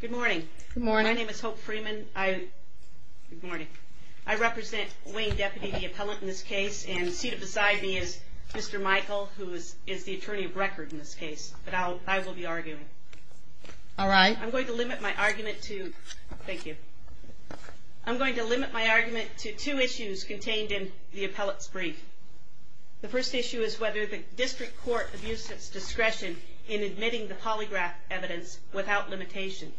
Good morning. My name is Hope Freeman. I represent Wayne Deputy, the appellant in this case, and seated beside me is Mr. Michael, who is the attorney of record in this case, but I will be arguing. I'm going to limit my argument to two issues contained in the appellate's brief. The first issue is whether the district court abused its discretion in admitting the polygraph evidence without limitation.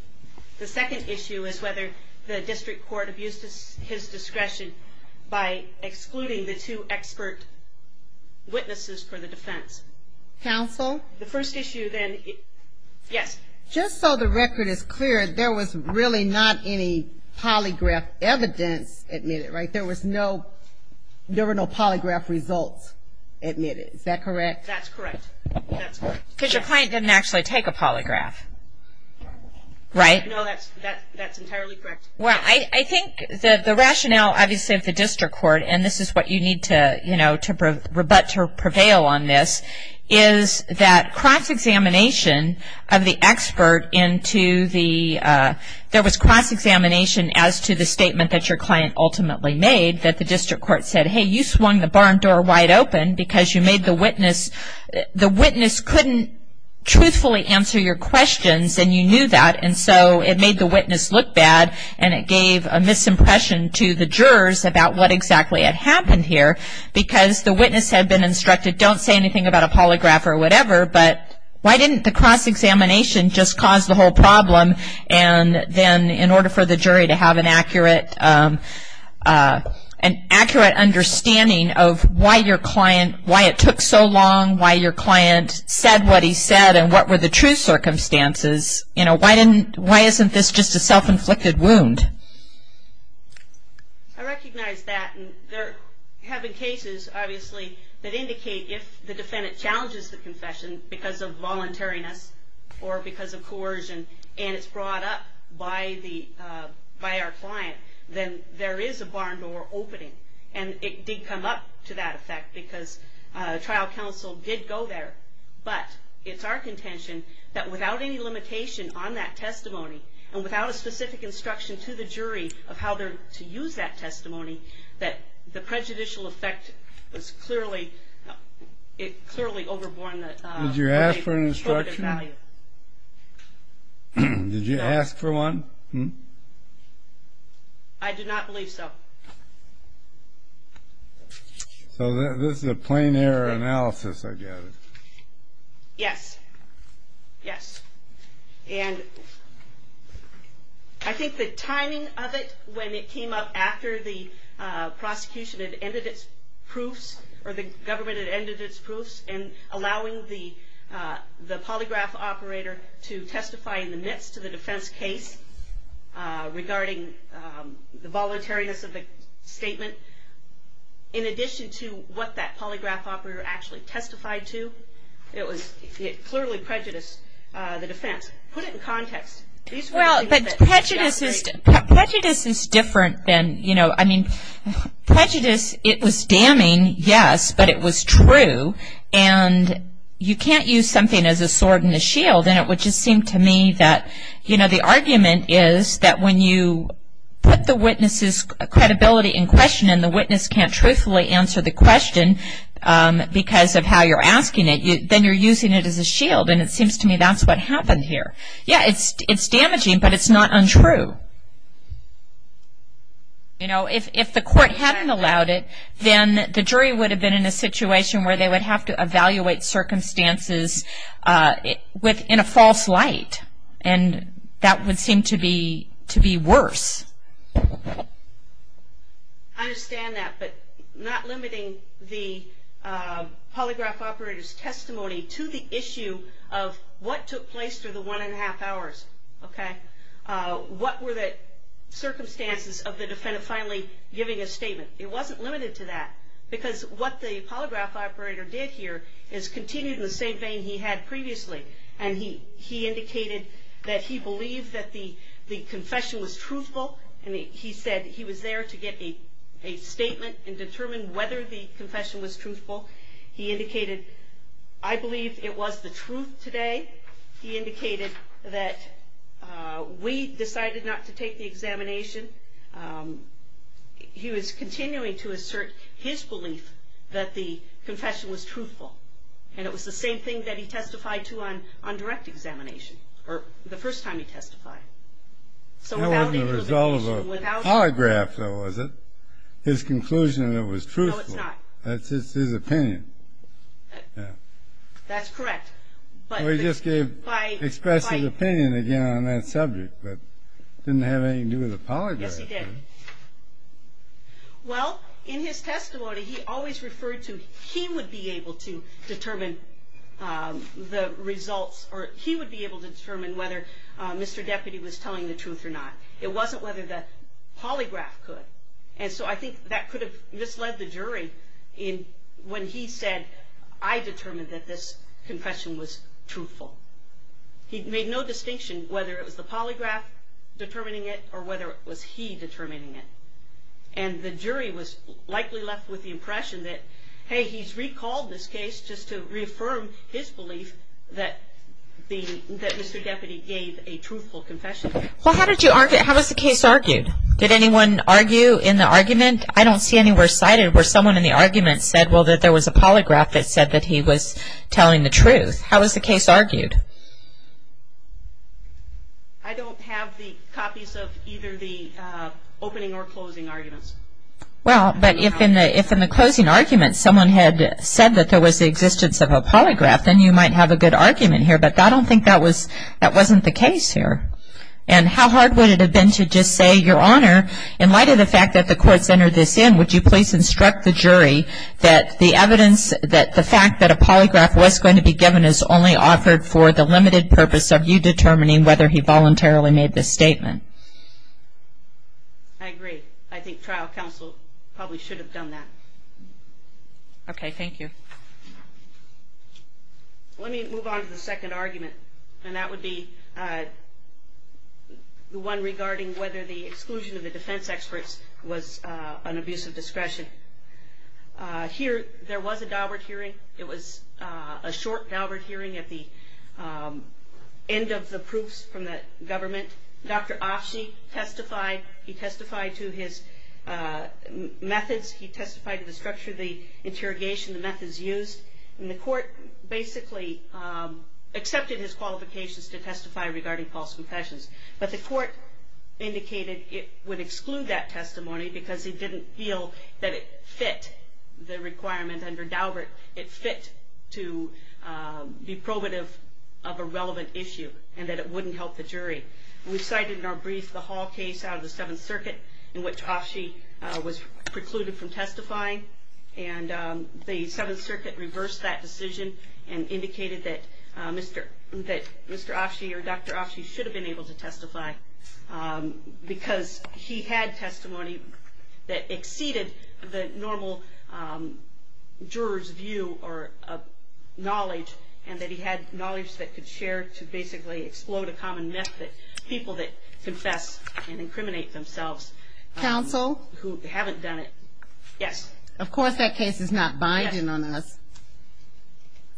The second issue is whether the district court abused his discretion by excluding the two expert witnesses for the defense. Counsel? The first issue then, yes. Just so the record is clear, there was really not any polygraph evidence admitted, right? There were no polygraph results admitted. Is that correct? That's correct. Because your client didn't actually take a polygraph, right? No, that's entirely correct. Well, I think the rationale, obviously, of the district court, and this is what you need to, you know, rebut or prevail on this, is that cross-examination of the expert into the, there was cross-examination as to the statement that your client ultimately made, that the district court said, hey, you swung the barn door wide open because you made the witness, the witness couldn't truthfully answer your questions, and you knew that, and so it made the witness look bad, and it gave a misimpression to the jurors about what exactly had happened here, because the witness had been instructed, don't say anything about a polygraph or whatever, but why didn't the cross-examination just cause the whole problem, and then in order for the jury to have an accurate understanding of why your client, why it took so long, why your client said what he said, and what were the true circumstances, you know, why isn't this just a self-inflicted wound? I recognize that, and there have been cases, obviously, that indicate if the defendant challenges the confession because of voluntariness or because of coercion, and it's brought up by the, by our client, then there is a barn door opening, and it did come up to that effect because trial counsel did go there, but it's our contention that without any limitation on that testimony, and without a specific instruction to the jury of how to use that testimony, that the prejudicial effect was clearly, it clearly overborne the, Did you ask for an instruction? Did you ask for one? I do not believe so. So this is a plain error analysis, I gather. Yes, yes, and I think the timing of it when it came up after the prosecution had ended its proofs, or the government had ended its proofs in allowing the polygraph operator to testify in the midst of the defense case regarding the voluntariness of the statement, in addition to what that polygraph operator actually testified to, it clearly prejudiced the defense. Put it in context. Well, but prejudice is different than, you know, I mean, prejudice, it was damning, yes, but it was true, and you can't use something as a sword and a shield, and it would just seem to me that, you know, the argument is that when you put the witness's credibility in question, and the witness can't truthfully answer the question because of how you're asking it, then you're using it as a shield, and it seems to me that's what happened here. Yeah, it's damaging, but it's not untrue. You know, if the court hadn't allowed it, then the jury would have been in a situation where they would have to evaluate circumstances within a false light, and that would seem to be worse. I understand that, but not limiting the polygraph operator's testimony to the issue of what took place through the one-and-a-half hours, okay, what were the circumstances of the defendant finally giving a statement? It wasn't limited to that, because what the polygraph operator did here is continue in the same vein he had previously, and he indicated that he believed that the confession was truthful, and he said he was there to get a statement and determine whether the confession was truthful. He indicated, I believe it was the truth today. He indicated that we decided not to take the examination. He was continuing to assert his belief that the confession was truthful, and it was the same thing that he testified to on direct examination, or the first time he testified. That wasn't the result of a polygraph, though, was it? His conclusion that it was truthful. No, it's not. That's just his opinion. That's correct. Well, he just gave expressive opinion again on that subject, but it didn't have anything to do with the polygraph. Yes, he did. Well, in his testimony, he always referred to he would be able to determine the results, or he would be able to determine whether Mr. Deputy was telling the truth or not. It wasn't whether the polygraph could, and so I think that could have misled the jury when he said, I determined that this confession was truthful. He made no distinction whether it was the polygraph determining it or whether it was he determining it, and the jury was likely left with the impression that, hey, he's recalled this case just to reaffirm his belief that Mr. Deputy gave a truthful confession. Well, how was the case argued? Did anyone argue in the argument? I don't see anywhere cited where someone in the argument said, well, that there was a polygraph that said that he was telling the truth. How was the case argued? I don't have the copies of either the opening or closing arguments. Well, but if in the closing argument, someone had said that there was the existence of a polygraph, then you might have a good argument here, but I don't think that wasn't the case here. And how hard would it have been to just say, Your Honor, in light of the fact that the courts entered this in, would you please instruct the jury that the evidence, that the fact that a polygraph was going to be given is only offered for the limited purpose of you determining whether he voluntarily made this statement? I agree. I think trial counsel probably should have done that. Okay. Thank you. Let me move on to the second argument, and that would be the one regarding whether the exclusion of the defense experts was an abuse of discretion. Here, there was a Daubert hearing. It was a short Daubert hearing at the end of the proofs from the government. Dr. Offshe testified. He testified to his methods. He testified to the structure of the interrogation, the methods used. And the court basically accepted his qualifications to testify regarding false confessions, but the court indicated it would exclude that testimony because he didn't feel that it fit the requirement under Daubert. It fit to be probative of a relevant issue and that it wouldn't help the jury. We cited in our brief the Hall case out of the Seventh Circuit in which Offshe was precluded from testifying, and the Seventh Circuit reversed that decision and indicated that Mr. Offshe or Dr. Offshe should have been able to testify because he had testimony that exceeded the normal juror's view or knowledge and that he had knowledge that could share to basically explode a common myth that people that confess and incriminate themselves who haven't done it. Yes. Of course that case is not binding on us.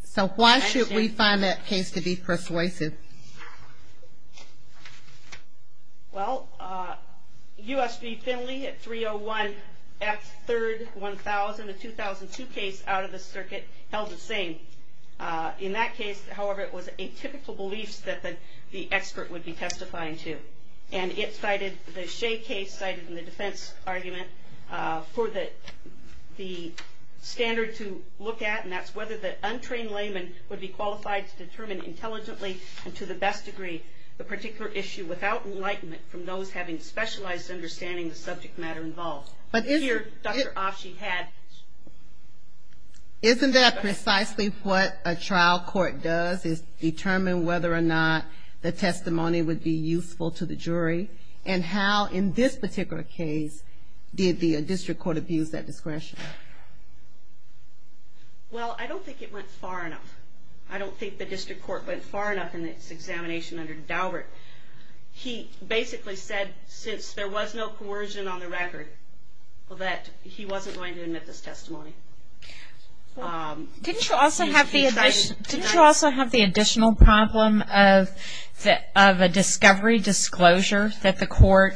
So why should we find that case to be persuasive? Well, U.S. v. Finley at 301 F. 3rd 1000, a 2002 case out of the circuit, held the same. In that case, however, it was atypical beliefs that the expert would be testifying to. And the Shea case cited in the defense argument for the standard to look at, and that's whether the untrained layman would be qualified to determine intelligently and to the best degree the particular issue without enlightenment from those having specialized understanding of the subject matter involved. Here, Dr. Offshe had. Isn't that precisely what a trial court does, is determine whether or not the testimony would be useful to the jury? And how in this particular case did the district court abuse that discretion? Well, I don't think it went far enough. I don't think the district court went far enough in its examination under Daubert. He basically said since there was no coercion on the record that he wasn't going to admit this testimony. Didn't you also have the additional problem of a discovery disclosure that the court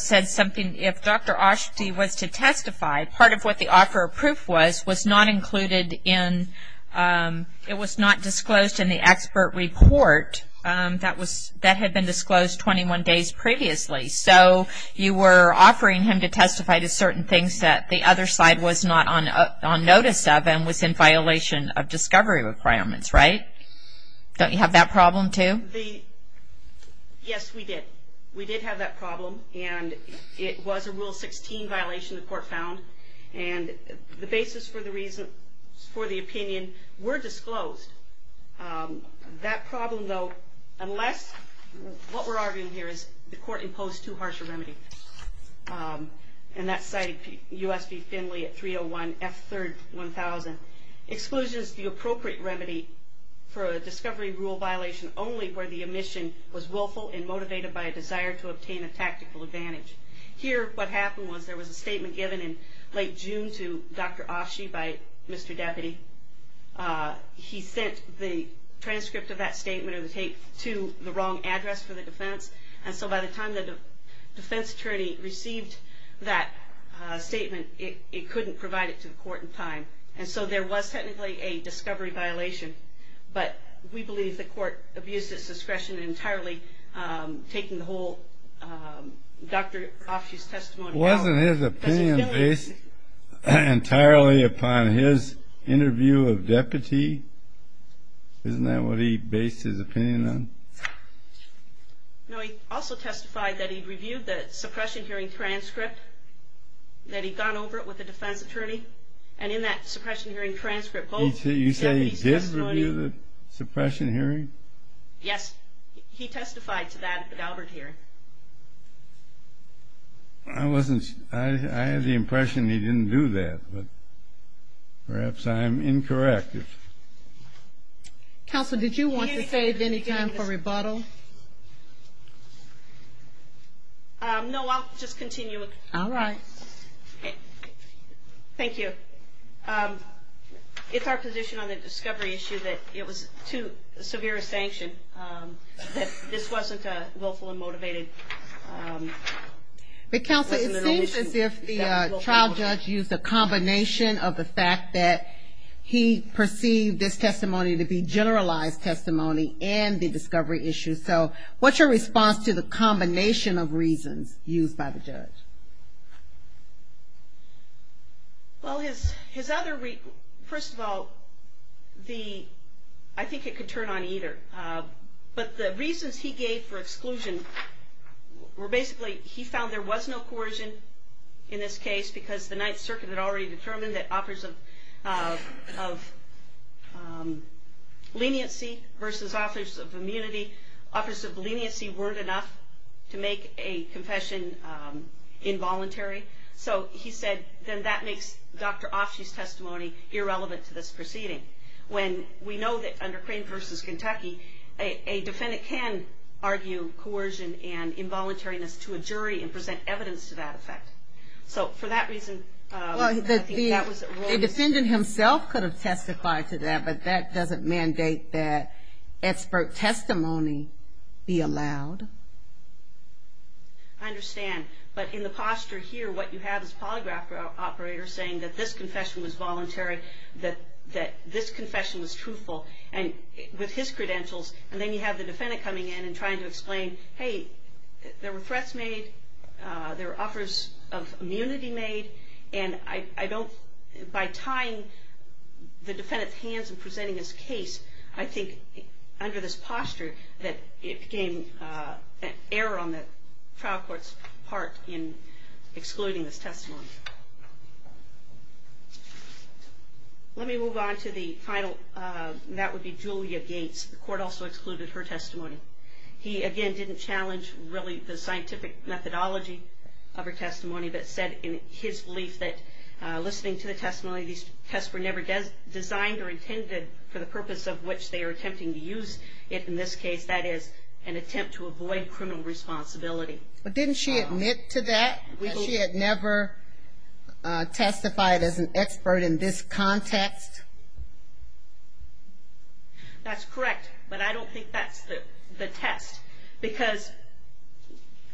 said something, if Dr. Offshe was to testify, part of what the offer of proof was, was not included in, it was not disclosed in the expert report that had been disclosed 21 days previously. So you were offering him to testify to certain things that the other side was not on notice of and was in violation of discovery requirements, right? Don't you have that problem, too? Yes, we did. We did have that problem, and it was a Rule 16 violation the court found, and the basis for the opinion were disclosed. That problem, though, unless what we're arguing here is the court imposed too harsh a remedy, and that's cited U.S. v. Finley at 301 F. 3rd, 1000. Exclusion is the appropriate remedy for a discovery rule violation only where the omission was willful and motivated by a desire to obtain a tactical advantage. Here, what happened was there was a statement given in late June to Dr. Offshe by Mr. Deputy. He sent the transcript of that statement or the tape to the wrong address for the defense, and so by the time the defense attorney received that statement, it couldn't provide it to the court in time. And so there was technically a discovery violation, but we believe the court abused its discretion in entirely taking the whole Dr. Offshe's testimony out. Wasn't his opinion based entirely upon his interview of deputy? Isn't that what he based his opinion on? No, he also testified that he reviewed the suppression hearing transcript, that he'd gone over it with the defense attorney, and in that suppression hearing transcript both deputies testified. You say he did review the suppression hearing? Yes, he testified to that at the Galbert hearing. I had the impression he didn't do that, but perhaps I'm incorrect. Counsel, did you want to save any time for rebuttal? No, I'll just continue. All right. Thank you. It's our position on the discovery issue that it was too severe a sanction, that this wasn't a willful and motivated... Counsel, it seems as if the trial judge used a combination of the fact that he perceived this testimony to be generalized testimony and the discovery issue. So what's your response to the combination of reasons used by the judge? Well, his other... First of all, I think it could turn on either. But the reasons he gave for exclusion were basically he found there was no coercion in this case, because the Ninth Circuit had already determined that offers of leniency versus offers of immunity, offers of leniency weren't enough to make a confession involuntary. So he said then that makes Dr. Offshe's testimony irrelevant to this proceeding. When we know that under Crane versus Kentucky, a defendant can argue coercion and involuntariness to a jury and present evidence to that effect. So for that reason... The defendant himself could have testified to that, but that doesn't mandate that expert testimony be allowed. I understand. But in the posture here, what you have is a polygraph operator saying that this confession was voluntary, that this confession was truthful, and with his credentials, and then you have the defendant coming in and trying to explain, hey, there were threats made, there were offers of immunity made, and I don't... By tying the defendant's hands and presenting his case, I think under this posture, it became an error on the trial court's part in excluding this testimony. Let me move on to the final. That would be Julia Gates. The court also excluded her testimony. He, again, didn't challenge really the scientific methodology of her testimony, but said in his belief that listening to the testimony, these tests were never designed or intended for the purpose of which they are attempting to use it in this case. That is, an attempt to avoid criminal responsibility. But didn't she admit to that, that she had never testified as an expert in this context? That's correct, but I don't think that's the test, because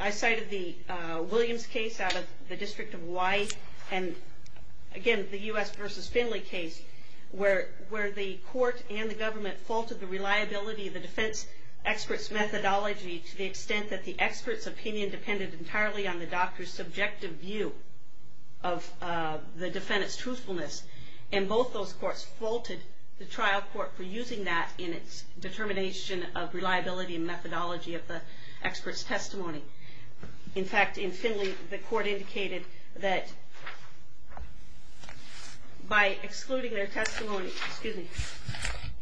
I cited the Williams case out of the District of Hawaii, and again, the U.S. v. Finley case, where the court and the government faulted the reliability of the defense expert's methodology to the extent that the expert's opinion depended entirely on the doctor's subjective view of the defendant's truthfulness, and both those courts faulted the trial court for using that in its determination of reliability and methodology of the expert's testimony. In fact, in Finley, the court indicated that by excluding their testimony, excuse me,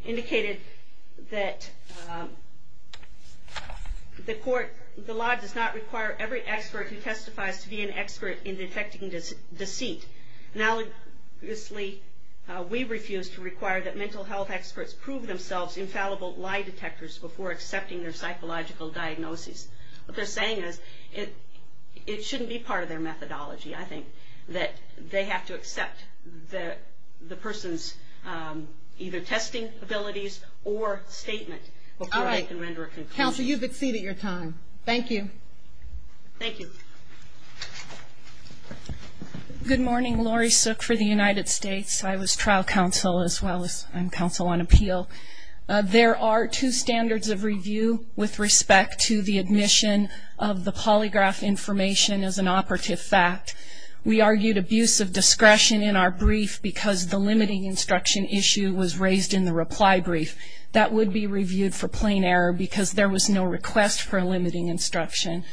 indicated that the court, the law does not require every expert who testifies to be an expert in detecting deceit. Analogously, we refuse to require that mental health experts prove themselves infallible lie detectors before accepting their psychological diagnosis. What they're saying is, it shouldn't be part of their methodology, I think, that they have to accept the person's either testing abilities or statement before they can render a conclusion. All right. Counsel, you've exceeded your time. Thank you. Thank you. Good morning. Laurie Sook for the United States. I was trial counsel as well as counsel on appeal. There are two standards of review with respect to the admission of the polygraph information as an operative fact. We argued abuse of discretion in our brief because the limiting instruction issue was raised in the reply brief. That would be reviewed for plain error because there was no request for a limiting instruction.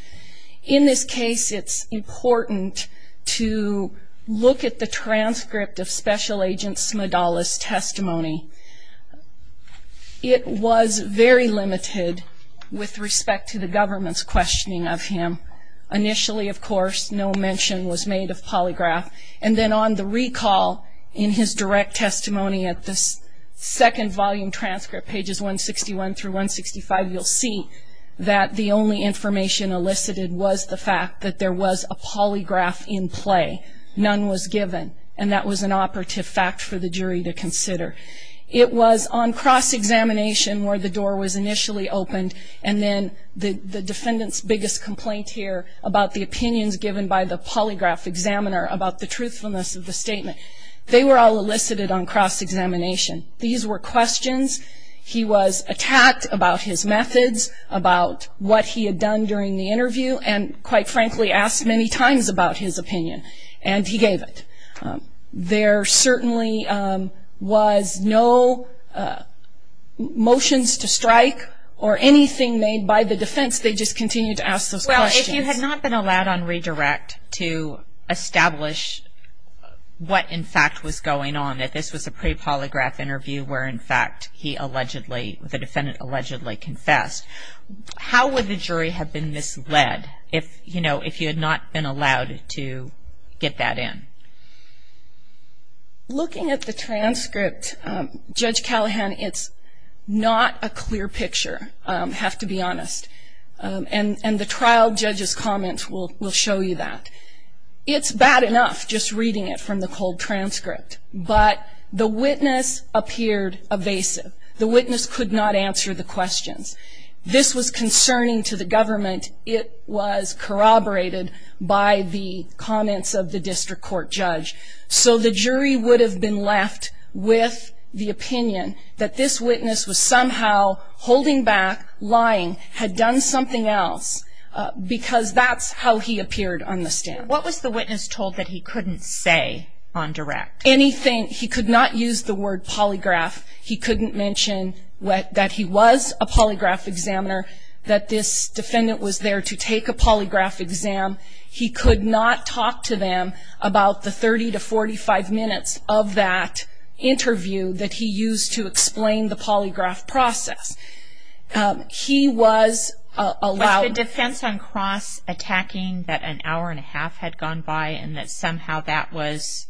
In this case, it's important to look at the transcript of Special Agent Smidall's testimony. It was very limited with respect to the government's questioning of him. Initially, of course, no mention was made of polygraph. And then on the recall in his direct testimony at the second volume transcript, pages 161 through 165, you'll see that the only information elicited was the fact that there was a polygraph in play. None was given. And that was an operative fact for the jury to consider. It was on cross-examination where the door was initially opened, and then the defendant's biggest complaint here about the opinions given by the polygraph examiner about the truthfulness of the statement, they were all elicited on cross-examination. These were questions. He was attacked about his methods, about what he had done during the interview, and quite frankly asked many times about his opinion. And he gave it. There certainly was no motions to strike or anything made by the defense. They just continued to ask those questions. Well, if you had not been allowed on redirect to establish what, in fact, was going on, that this was a pre-polygraph interview where, in fact, he allegedly, the defendant allegedly confessed, how would the jury have been misled if, you know, if you had not been allowed to get that in? Looking at the transcript, Judge Callahan, it's not a clear picture, I have to be honest. And the trial judge's comments will show you that. It's bad enough just reading it from the cold transcript, but the witness appeared evasive. The witness could not answer the questions. This was concerning to the government. It was corroborated by the comments of the district court judge. So the jury would have been left with the opinion that this witness was somehow holding back, lying, had done something else because that's how he appeared on the stand. What was the witness told that he couldn't say on direct? Anything. He could not use the word polygraph. He couldn't mention that he was a polygraph examiner, that this defendant was there to take a polygraph exam. He could not talk to them about the 30 to 45 minutes of that interview that he used to explain the polygraph process. He was allowed- Was the defense on cross-attacking that an hour and a half had gone by and that somehow that was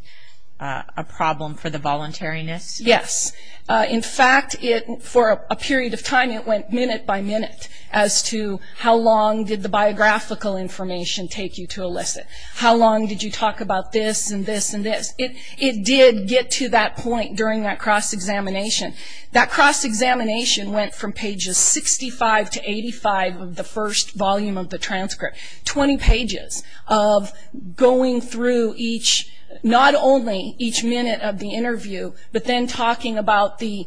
a problem for the voluntariness? Yes. In fact, for a period of time it went minute by minute as to how long did the biographical information take you to elicit. How long did you talk about this and this and this? It did get to that point during that cross-examination. That cross-examination went from pages 65 to 85 of the first volume of the transcript, 20 pages of going through not only each minute of the interview, but then talking about the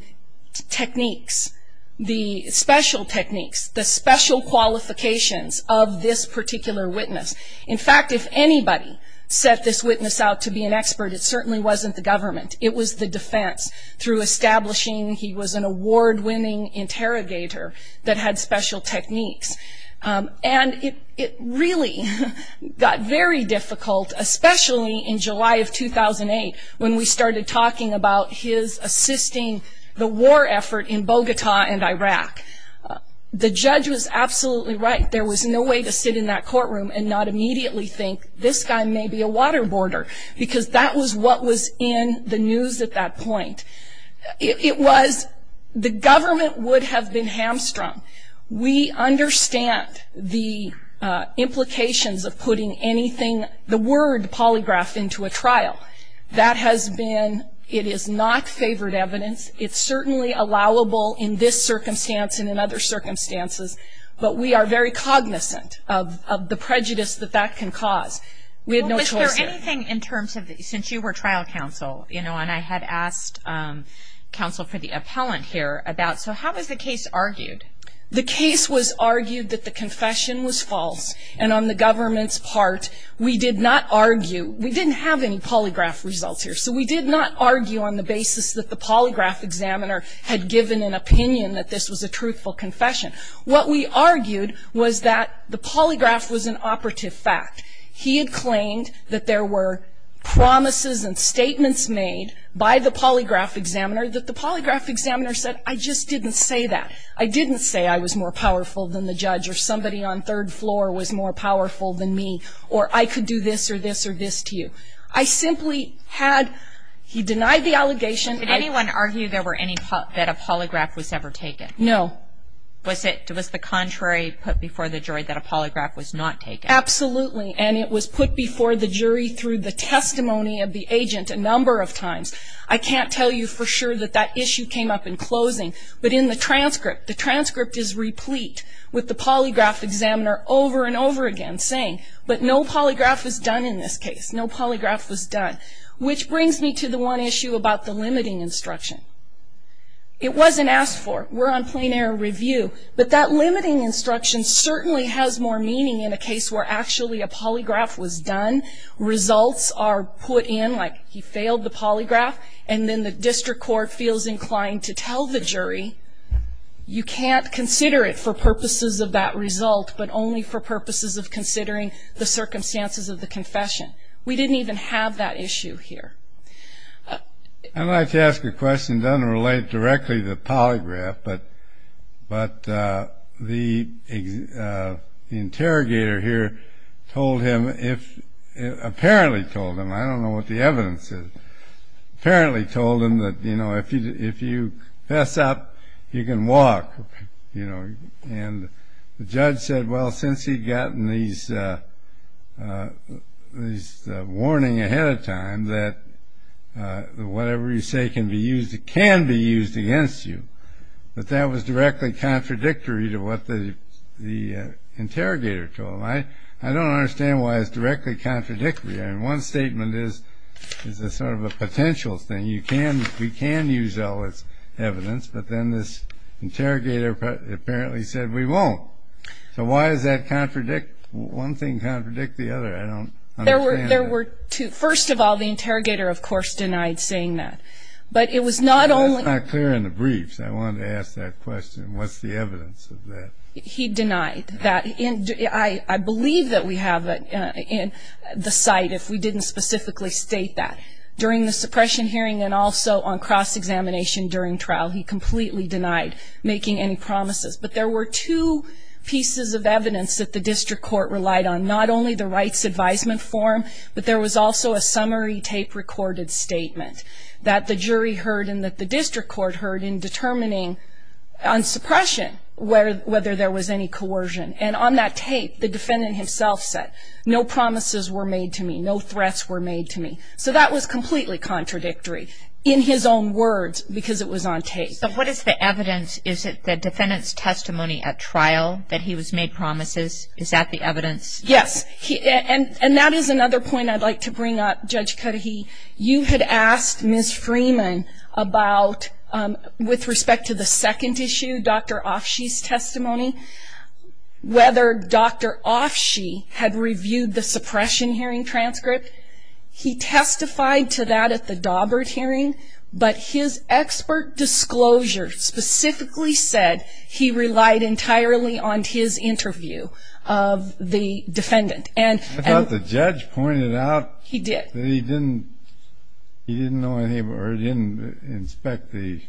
techniques, the special techniques, the special qualifications of this particular witness. In fact, if anybody set this witness out to be an expert, it certainly wasn't the government. It was the defense through establishing he was an award-winning interrogator that had special techniques. And it really got very difficult, especially in July of 2008, when we started talking about his assisting the war effort in Bogota and Iraq. The judge was absolutely right. There was no way to sit in that courtroom and not immediately think, this guy may be a waterboarder, because that was what was in the news at that point. It was the government would have been hamstrung. We understand the implications of putting anything, the word polygraph, into a trial. That has been, it is not favored evidence. It's certainly allowable in this circumstance and in other circumstances, but we are very cognizant of the prejudice that that can cause. We had no choice there. Well, was there anything in terms of, since you were trial counsel, you know, and I had asked counsel for the appellant here about, so how was the case argued? The case was argued that the confession was false, and on the government's part, we did not argue. We didn't have any polygraph results here, so we did not argue on the basis that the polygraph examiner had given an opinion that this was a truthful confession. What we argued was that the polygraph was an operative fact. He had claimed that there were promises and statements made by the polygraph examiner that the polygraph examiner said, I just didn't say that. I didn't say I was more powerful than the judge or somebody on third floor was more powerful than me, or I could do this or this or this to you. I simply had, he denied the allegation. Did anyone argue there were any, that a polygraph was ever taken? No. Was it, was the contrary put before the jury that a polygraph was not taken? Absolutely, and it was put before the jury through the testimony of the agent a number of times. I can't tell you for sure that that issue came up in closing, but in the transcript, the transcript is replete with the polygraph examiner over and over again saying, but no polygraph was done in this case. No polygraph was done, which brings me to the one issue about the limiting instruction. It wasn't asked for. We're on plain error review. But that limiting instruction certainly has more meaning in a case where actually a polygraph was done, results are put in like he failed the polygraph, and then the district court feels inclined to tell the jury you can't consider it for purposes of that result, but only for purposes of considering the circumstances of the confession. We didn't even have that issue here. I'd like to ask a question that doesn't relate directly to the polygraph, but the interrogator here told him, apparently told him, I don't know what the evidence is, apparently told him that, you know, if you mess up, you can walk, you know, and the judge said, well, since he'd gotten these warning ahead of time that whatever you say can be used, it can be used against you, but that was directly contradictory to what the interrogator told him. I don't understand why it's directly contradictory. I mean, one statement is a sort of a potential thing. I mean, you can, we can use all this evidence, but then this interrogator apparently said we won't. So why does that contradict, one thing contradict the other? I don't understand that. There were two. First of all, the interrogator, of course, denied saying that. But it was not only. That's not clear in the briefs. I wanted to ask that question. What's the evidence of that? He denied that. I believe that we have it in the site if we didn't specifically state that. During the suppression hearing and also on cross-examination during trial, he completely denied making any promises. But there were two pieces of evidence that the district court relied on, not only the rights advisement form, but there was also a summary tape-recorded statement that the jury heard and that the district court heard in determining on suppression whether there was any coercion. And on that tape, the defendant himself said, no promises were made to me, no threats were made to me. So that was completely contradictory in his own words because it was on tape. So what is the evidence? Is it the defendant's testimony at trial that he was made promises? Is that the evidence? Yes. And that is another point I'd like to bring up, Judge Cudahy. You had asked Ms. Freeman about, with respect to the second issue, Dr. Offshe's testimony, whether Dr. Offshe had reviewed the suppression hearing transcript. He testified to that at the Daubert hearing, but his expert disclosure specifically said he relied entirely on his interview of the defendant. I thought the judge pointed out that he didn't inspect the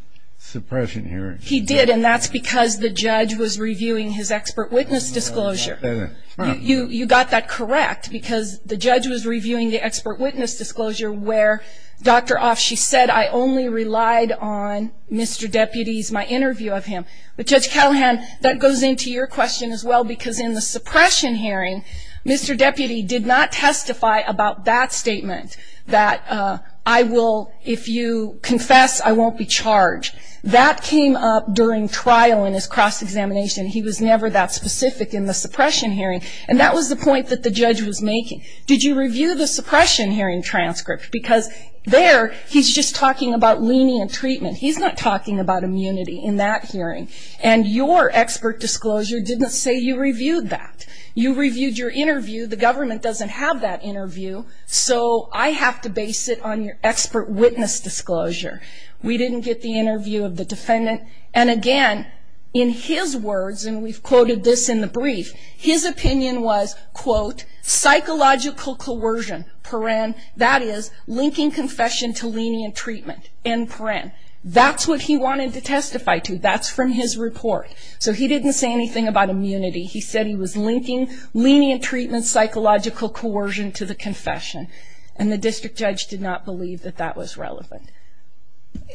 suppression hearing. He did, and that's because the judge was reviewing his expert witness disclosure. You got that correct because the judge was reviewing the expert witness disclosure where Dr. Offshe said, I only relied on Mr. Deputy's, my interview of him. But, Judge Callahan, that goes into your question as well because in the suppression hearing, Mr. Deputy did not testify about that statement that I will, if you confess, I won't be charged. That came up during trial in his cross-examination. He was never that specific in the suppression hearing, and that was the point that the judge was making. Did you review the suppression hearing transcript? Because there, he's just talking about lenient treatment. He's not talking about immunity in that hearing, and your expert disclosure didn't say you reviewed that. You reviewed your interview. The government doesn't have that interview, so I have to base it on your expert witness disclosure. We didn't get the interview of the defendant. And, again, in his words, and we've quoted this in the brief, his opinion was, quote, psychological coercion, paren, that is, linking confession to lenient treatment, in paren. That's what he wanted to testify to. That's from his report. So he didn't say anything about immunity. He said he was linking lenient treatment, psychological coercion to the confession, and the district judge did not believe that that was relevant.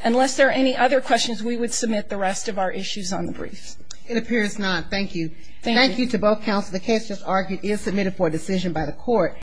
Unless there are any other questions, we would submit the rest of our issues on the brief. It appears not. Thank you. Thank you to both counsel. The case, as argued, is submitted for decision by the court.